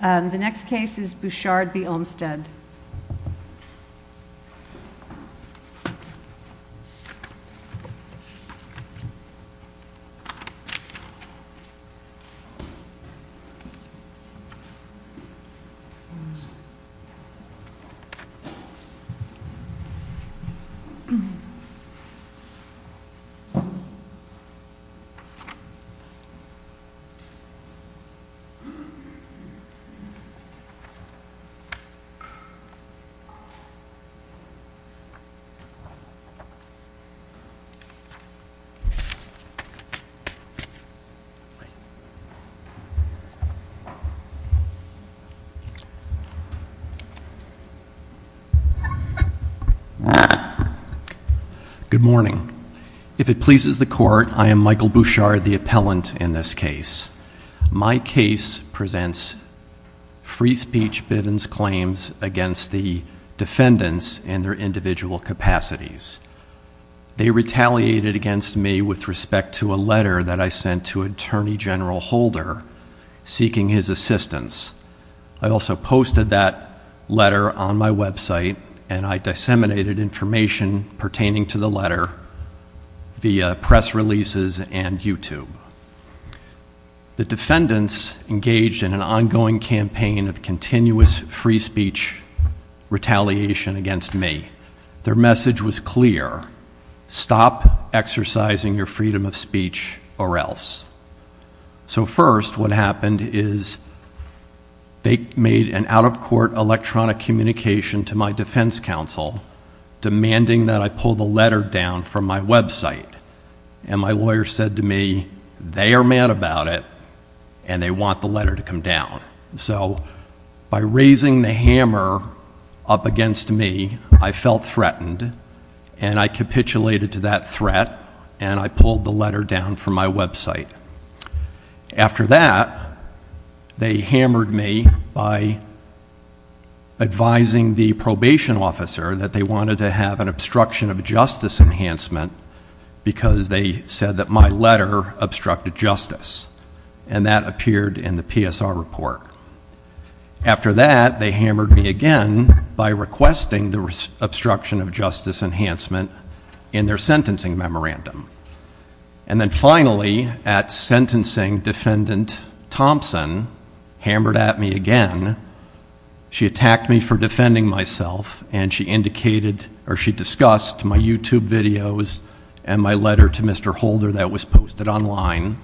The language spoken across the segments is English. The next case is Bouchard v. Olmstead. Good morning. If it pleases the court, I am Michael Bouchard, the appellant in this case. My case presents free speech biddens claims against the defendants and their individual capacities. They retaliated against me with respect to a letter that I sent to Attorney General Holder seeking his assistance. I also posted that letter on my website and I disseminated information pertaining to the letter via press releases and YouTube. The defendants engaged in an ongoing campaign of continuous free speech retaliation against me. Their message was clear, stop exercising your freedom of speech or else. So first what happened is they made an out-of-court electronic communication to my defense counsel demanding that I pull the letter down from my website. And my lawyer said to me, they are mad about it and they want the letter to come down. So by raising the hammer up against me, I felt threatened and I capitulated to that threat and I pulled the letter down from my website. After that, they hammered me by advising the probation officer that they wanted to have an obstruction of justice enhancement because they said that my letter obstructed justice. And that appeared in the PSR report. After that, they hammered me again by requesting the obstruction of justice enhancement in their sentencing memorandum. And then finally, at sentencing, Defendant Thompson hammered at me again. She attacked me for defending myself and she discussed my YouTube videos and my letter to Mr. Holder that was posted online.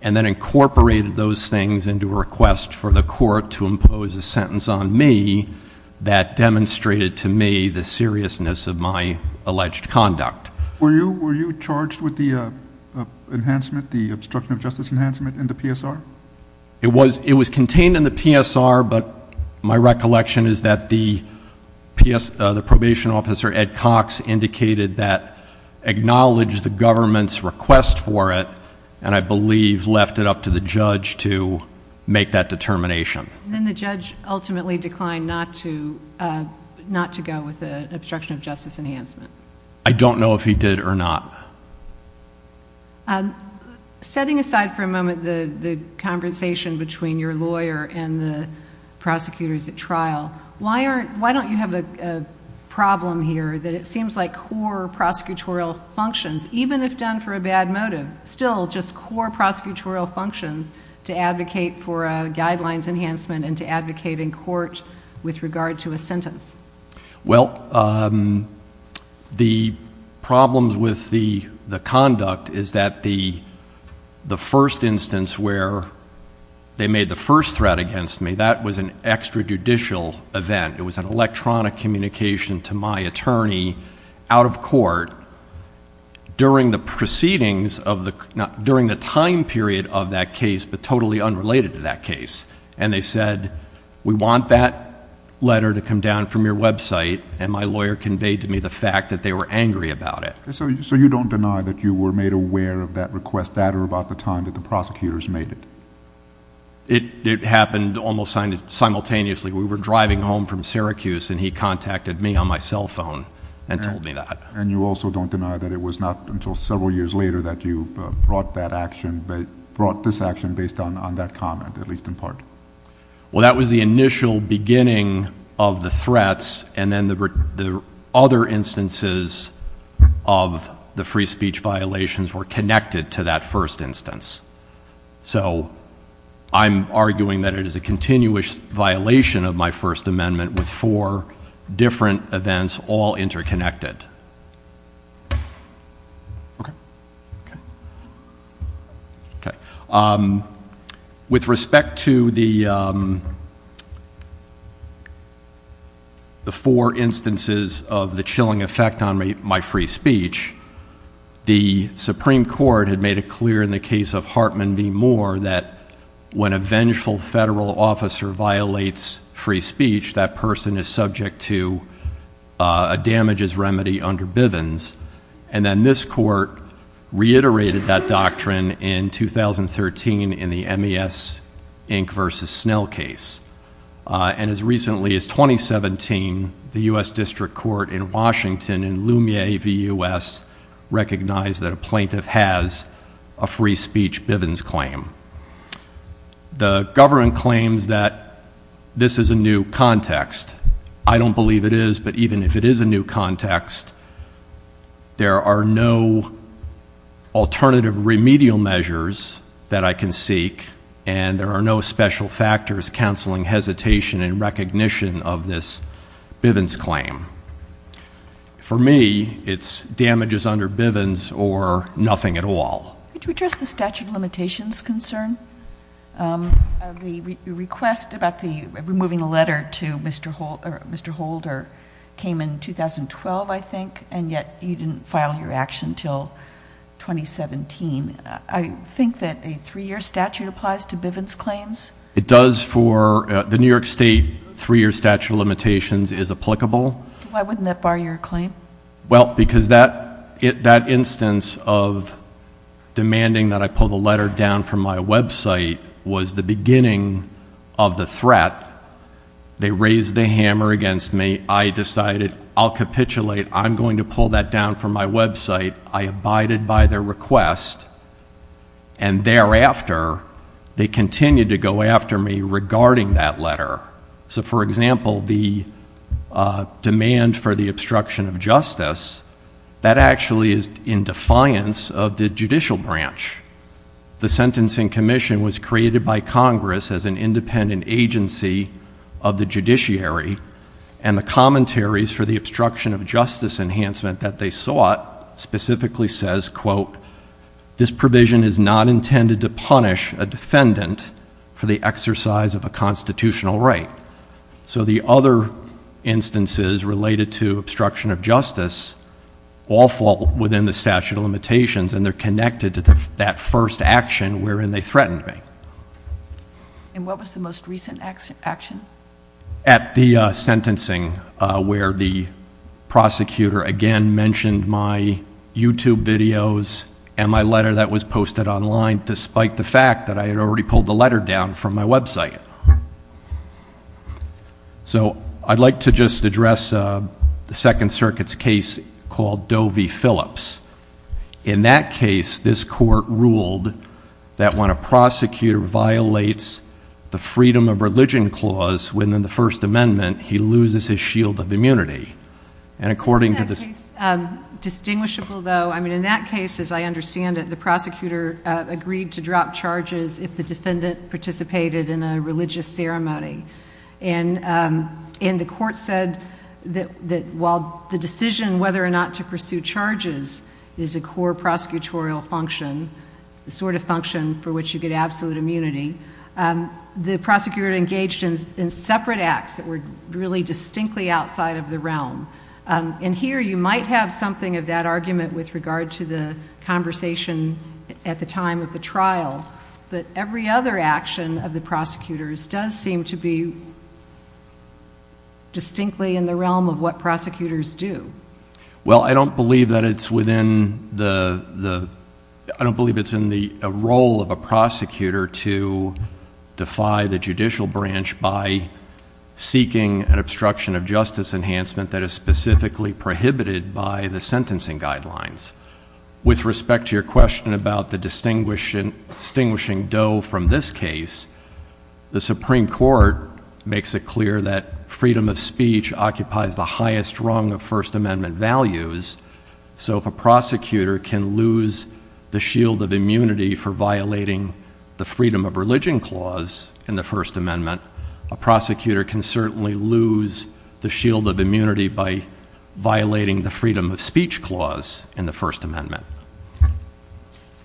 And then incorporated those things into a request for the court to impose a sentence on me that demonstrated to me the seriousness of my alleged conduct. Were you charged with the enhancement, the obstruction of justice enhancement in the PSR? It was contained in the PSR, but my recollection is that the probation officer, Ed Cox, indicated that acknowledged the government's request for it and I believe left it up to the judge to make that determination. Then the judge ultimately declined not to go with the obstruction of justice enhancement. I don't know if he did or not. Setting aside for a moment the conversation between your lawyer and the prosecutors at trial, why don't you have a problem here that it seems like core prosecutorial functions, even if done for a bad motive, still just core prosecutorial functions to advocate for a guidelines enhancement and to advocate in court with regard to a sentence? Well, the problems with the conduct is that the first instance where they made the first threat against me, that was an extrajudicial event. It was an electronic communication to my attorney out of court during the time period of that case, but totally unrelated to that case. They said, we want that letter to come down from your website, and my lawyer conveyed to me the fact that they were angry about it. So you don't deny that you were made aware of that request at or about the time that the prosecutors made it? It happened almost simultaneously. We were driving home from Syracuse and he contacted me on my cell phone and told me that. And you also don't deny that it was not until several years later that you brought this action based on that comment, at least in part? Well, that was the initial beginning of the threats, and then the other instances of the free speech violations were connected to that first instance. So I'm arguing that it is a continuous violation of my First Amendment with four different events all interconnected. With respect to the four instances of the chilling effect on my free speech, the Supreme Court had made it clear in the case of Hartman v. Moore that when a vengeful federal officer violates free speech, that person is subject to a damages remedy under Bivens. And then this court reiterated that doctrine in 2013 in the MES Inc. v. Snell case. And as recently as 2017, the U.S. District Court in Washington in Lumiere v. U.S. recognized that a plaintiff has a free speech Bivens claim. The government claims that this is a new context. I don't believe it is, but even if it is a new context, there are no alternative remedial measures that I can seek, and there are no special factors counseling hesitation and recognition of this Bivens claim. For me, it's damages under Bivens or nothing at all. Could you address the statute of limitations concern? The request about removing the letter to Mr. Holder came in 2012, I think, and yet you didn't file your action until 2017. I think that a three-year statute applies to Bivens claims. It does for the New York State three-year statute of limitations is applicable. Why wouldn't that bar your claim? Well, because that instance of demanding that I pull the letter down from my website was the beginning of the threat. They raised the hammer against me. I decided I'll capitulate. I'm going to pull that down from my website. I abided by their request, and thereafter, they continued to go after me regarding that letter. For example, the demand for the obstruction of justice, that actually is in defiance of the judicial branch. The Sentencing Commission was created by Congress as an independent agency of the judiciary, and the commentaries for the obstruction of justice enhancement that they sought specifically says, quote, this provision is not intended to punish a defendant for the exercise of a constitutional right. So the other instances related to obstruction of justice all fall within the statute of limitations, and they're connected to that first action wherein they threatened me. And what was the most recent action? At the sentencing where the prosecutor, again, mentioned my YouTube videos and my letter that was posted online despite the fact that I had already pulled the letter down from my website. So I'd like to just address the Second Circuit's case called Doe v. Phillips. In that case, this court ruled that when a prosecutor violates the freedom of religion clause within the First Amendment, he loses his shield of immunity. And according to the— That case is distinguishable, though. I mean, in that case, as I understand it, the prosecutor agreed to drop charges if the defendant participated in a religious ceremony. And the court said that while the decision whether or not to pursue charges is a core prosecutorial function, the sort of function for which you get absolute immunity, the prosecutor engaged in separate acts that were really distinctly outside of the realm. And here you might have something of that argument with regard to the conversation at the time of the trial, but every other action of the prosecutors does seem to be distinctly in the realm of what prosecutors do. Well, I don't believe that it's within the—I don't believe it's in the role of a prosecutor to defy the judicial branch by seeking an obstruction of justice enhancement that is specifically prohibited by the sentencing guidelines. With respect to your question about the distinguishing doe from this case, the Supreme Court makes it clear that freedom of speech occupies the highest rung of First Amendment values. So if a prosecutor can lose the shield of immunity for violating the freedom of religion clause in the First Amendment, a prosecutor can certainly lose the shield of immunity by violating the freedom of speech clause in the First Amendment.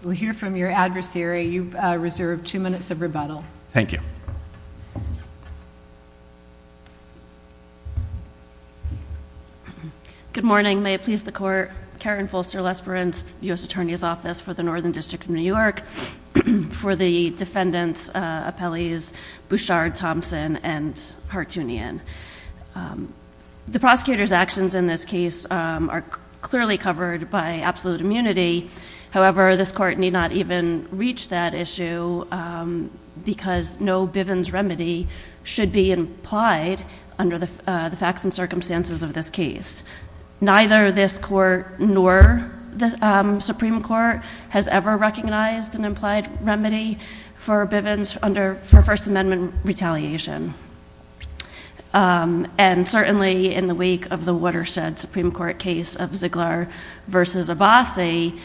We'll hear from your adversary. You've reserved two minutes of rebuttal. Thank you. Good morning. May it please the Court. Karen Fulster-Lesperance, U.S. Attorney's Office for the Northern District of New York. For the defendants' appellees, Bouchard, Thompson, and Hartunian. The prosecutor's actions in this case are clearly covered by absolute immunity. However, this Court need not even reach that issue because no Bivens remedy should be implied under the facts and circumstances of this case. Neither this Court nor the Supreme Court has ever recognized an implied remedy for Bivens under First Amendment retaliation. And certainly in the wake of the Watershed Supreme Court case of Ziegler versus Abbasi,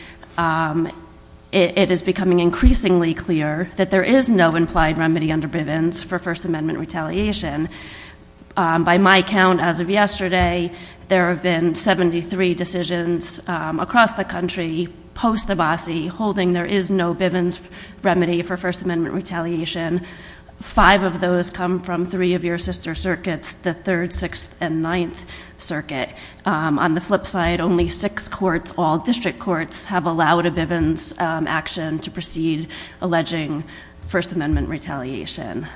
it is becoming increasingly clear that there is no implied remedy under Bivens for First Amendment retaliation. By my count, as of yesterday, there have been 73 decisions across the country, post-Abbasi, holding there is no Bivens remedy for First Amendment retaliation. Five of those come from three of your sister circuits, the Third, Sixth, and Ninth Circuit. On the flip side, only six courts, all district courts, have allowed a Bivens action to proceed alleging First Amendment retaliation.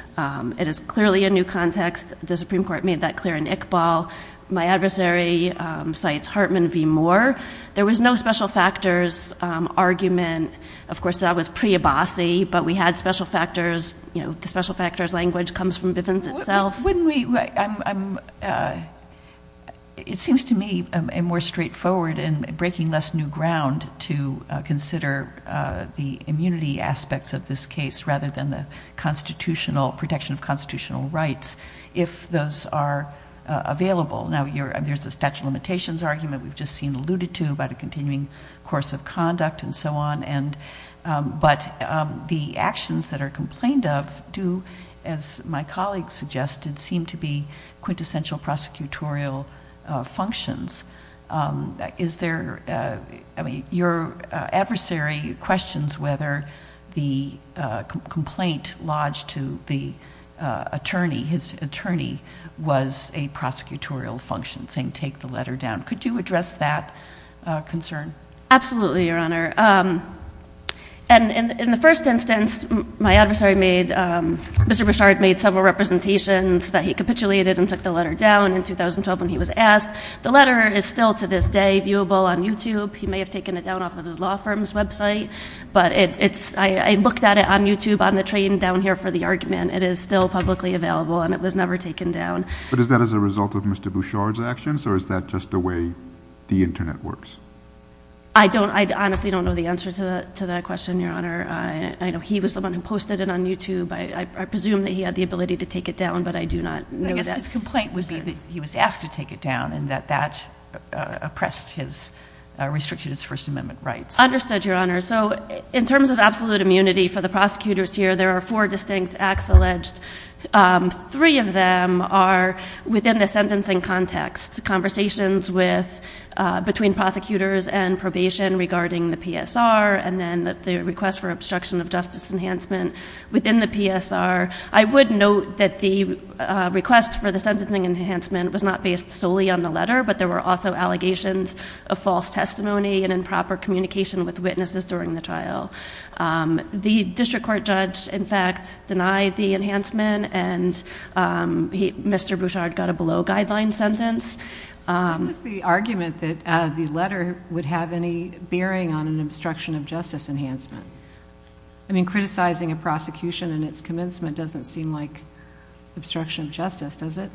It is clearly a new context. The Supreme Court made that clear in Iqbal. My adversary cites Hartman v. Moore. There was no special factors argument. Of course, that was pre-Abbasi, but we had special factors. You know, the special factors language comes from Bivens itself. It seems to me more straightforward and breaking less new ground to consider the immunity aspects of this case rather than the protection of constitutional rights, if those are available. Now, there's a statute of limitations argument we've just seen alluded to about a continuing course of conduct and so on. But the actions that are complained of do, as my colleague suggested, seem to be quintessential prosecutorial functions. Is there, I mean, your adversary questions whether the complaint lodged to the attorney, his attorney, was a prosecutorial function, saying take the letter down. Could you address that concern? Absolutely, Your Honor. And in the first instance, my adversary made, Mr. Bouchard made several representations that he capitulated and took the letter down in 2012 when he was asked. The letter is still to this day viewable on YouTube. He may have taken it down off of his law firm's website. But it's, I looked at it on YouTube on the train down here for the argument. It is still publicly available, and it was never taken down. But is that as a result of Mr. Bouchard's actions, or is that just the way the Internet works? I honestly don't know the answer to that question, Your Honor. I know he was the one who posted it on YouTube. I presume that he had the ability to take it down, but I do not know that. But I guess his complaint would be that he was asked to take it down and that that oppressed his, restricted his First Amendment rights. Understood, Your Honor. So in terms of absolute immunity for the prosecutors here, there are four distinct acts alleged. Three of them are within the sentencing context, conversations between prosecutors and probation regarding the PSR and then the request for obstruction of justice enhancement within the PSR. I would note that the request for the sentencing enhancement was not based solely on the letter, but there were also allegations of false testimony and improper communication with witnesses during the trial. The district court judge, in fact, denied the enhancement, and Mr. Bouchard got a below-guideline sentence. What was the argument that the letter would have any bearing on an obstruction of justice enhancement? I mean, criticizing a prosecution in its commencement doesn't seem like obstruction of justice, does it?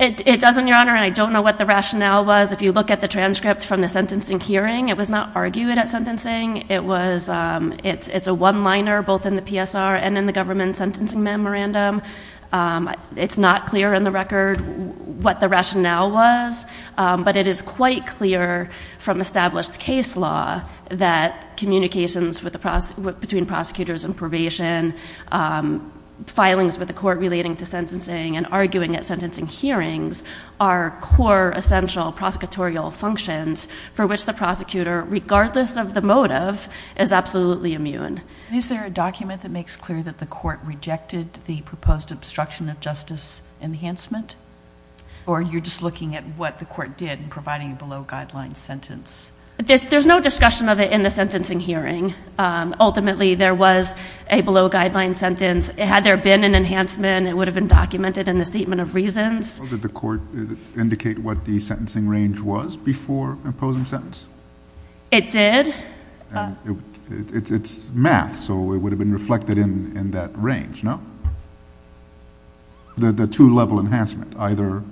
It doesn't, Your Honor, and I don't know what the rationale was. If you look at the transcript from the sentencing hearing, it was not argued at sentencing. It's a one-liner both in the PSR and in the government sentencing memorandum. It's not clear in the record what the rationale was, but it is quite clear from established case law that communications between prosecutors and probation, filings with the court relating to sentencing and arguing at sentencing hearings are core essential prosecutorial functions for which the prosecutor, regardless of the motive, is absolutely immune. Is there a document that makes clear that the court rejected the proposed obstruction of justice enhancement? Or you're just looking at what the court did in providing a below-guideline sentence? There's no discussion of it in the sentencing hearing. Ultimately, there was a below-guideline sentence. Had there been an enhancement, it would have been documented in the statement of reasons. Did the court indicate what the sentencing range was before imposing sentence? It did. It's math, so it would have been reflected in that range, no? The two-level enhancement, either,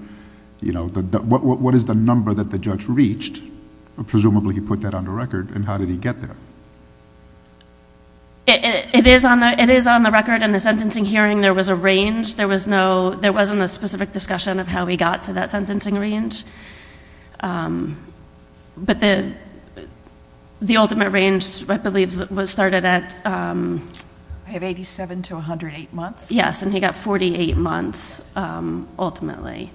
you know, what is the number that the judge reached? Presumably he put that on the record, and how did he get there? It is on the record in the sentencing hearing there was a range. There wasn't a specific discussion of how he got to that sentencing range. But the ultimate range, I believe, was started at? I have 87 to 108 months. Yes, and he got 48 months, ultimately.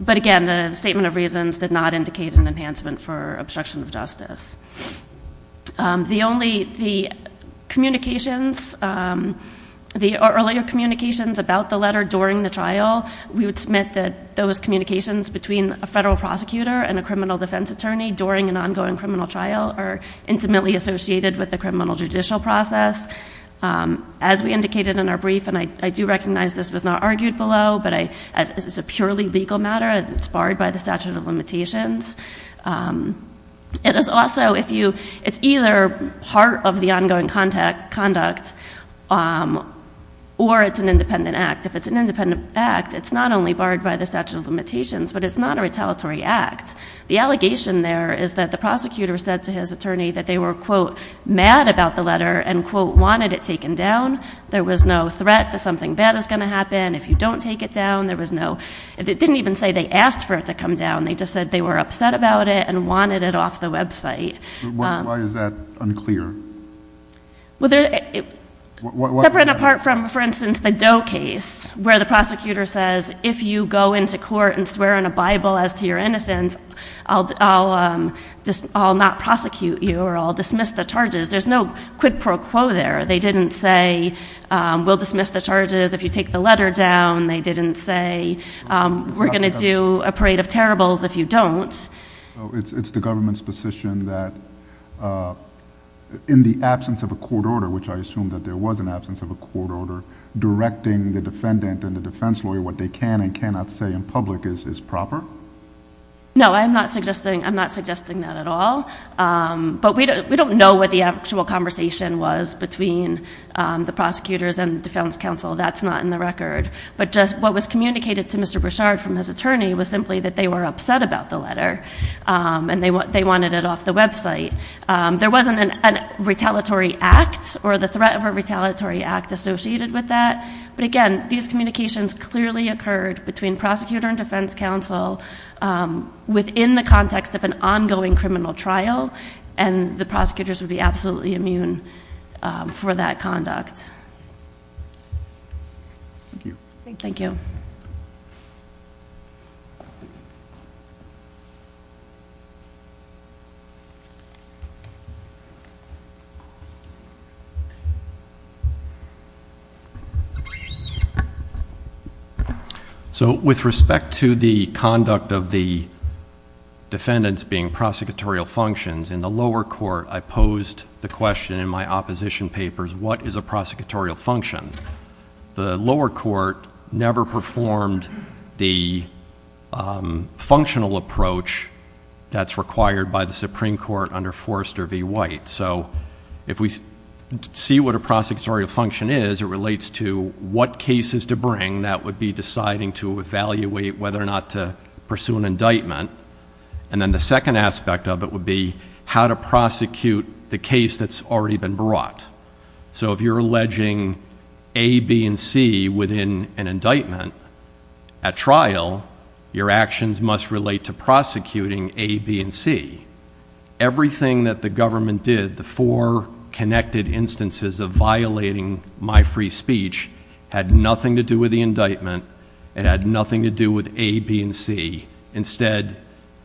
But again, the statement of reasons did not indicate an enhancement for obstruction of justice. The earlier communications about the letter during the trial, we would submit that those communications between a federal prosecutor and a criminal defense attorney during an ongoing criminal trial are intimately associated with the criminal judicial process. As we indicated in our brief, and I do recognize this was not argued below, but it's a purely legal matter. It's barred by the statute of limitations. It is also, if you, it's either part of the ongoing conduct or it's an independent act. If it's an independent act, it's not only barred by the statute of limitations, but it's not a retaliatory act. The allegation there is that the prosecutor said to his attorney that they were, quote, mad about the letter and, quote, wanted it taken down. There was no threat that something bad is going to happen if you don't take it down. There was no, it didn't even say they asked for it to come down. They just said they were upset about it and wanted it off the website. Why is that unclear? Separate and apart from, for instance, the Doe case where the prosecutor says, if you go into court and swear in a Bible as to your innocence, I'll not prosecute you or I'll dismiss the charges. There's no quid pro quo there. They didn't say we'll dismiss the charges if you take the letter down. They didn't say we're going to do a parade of terribles if you don't. It's the government's position that in the absence of a court order, which I assume that there was an absence of a court order, directing the defendant and the defense lawyer what they can and cannot say in public is proper? No, I'm not suggesting that at all. But we don't know what the actual conversation was between the prosecutors and the defense counsel. That's not in the record. But what was communicated to Mr. Brouchard from his attorney was simply that they were upset about the letter and they wanted it off the website. There wasn't a retaliatory act or the threat of a retaliatory act associated with that. But, again, these communications clearly occurred between prosecutor and defense counsel within the context of an ongoing criminal trial, and the prosecutors would be absolutely immune for that conduct. Thank you. Thank you. Thank you. With respect to the conduct of the defendants being prosecutorial functions, in the lower court I posed the question in my opposition papers, what is a prosecutorial function? The lower court never performed the functional approach that's required by the Supreme Court under Forrester v. White. So if we see what a prosecutorial function is, it relates to what cases to bring that would be deciding to evaluate whether or not to pursue an indictment. And then the second aspect of it would be how to prosecute the case that's already been brought. So if you're alleging A, B, and C within an indictment at trial, your actions must relate to prosecuting A, B, and C. Everything that the government did, the four connected instances of violating my free speech, had nothing to do with the indictment. It had nothing to do with A, B, and C. Instead,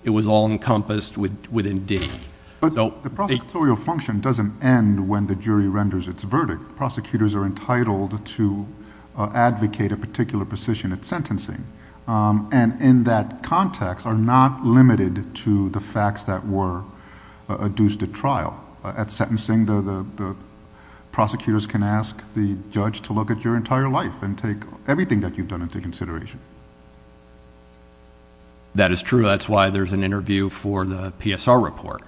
it was all encompassed within D. The prosecutorial function doesn't end when the jury renders its verdict. Prosecutors are entitled to advocate a particular position at sentencing, and in that context are not limited to the facts that were adduced at trial. At sentencing, prosecutors can ask the judge to look at your entire life and take everything that you've done into consideration. That is true. That's why there's an interview for the PSR report.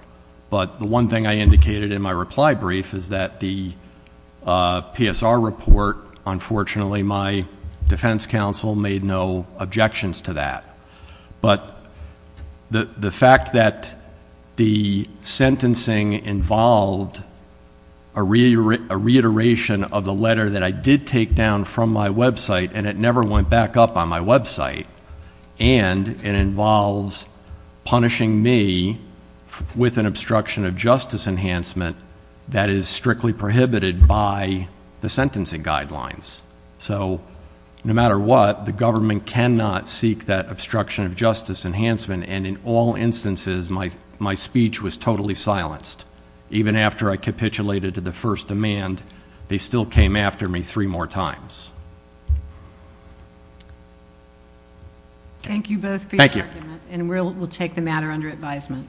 But the one thing I indicated in my reply brief is that the PSR report, unfortunately, my defense counsel made no objections to that. But the fact that the sentencing involved a reiteration of the letter that I did take down from my website and it never went back up on my website and it involves punishing me with an obstruction of justice enhancement that is strictly prohibited by the sentencing guidelines. So no matter what, the government cannot seek that obstruction of justice enhancement, and in all instances, my speech was totally silenced. Even after I capitulated to the first demand, they still came after me three more times. Thank you both for your argument. Thank you. And we'll take the matter under advisement.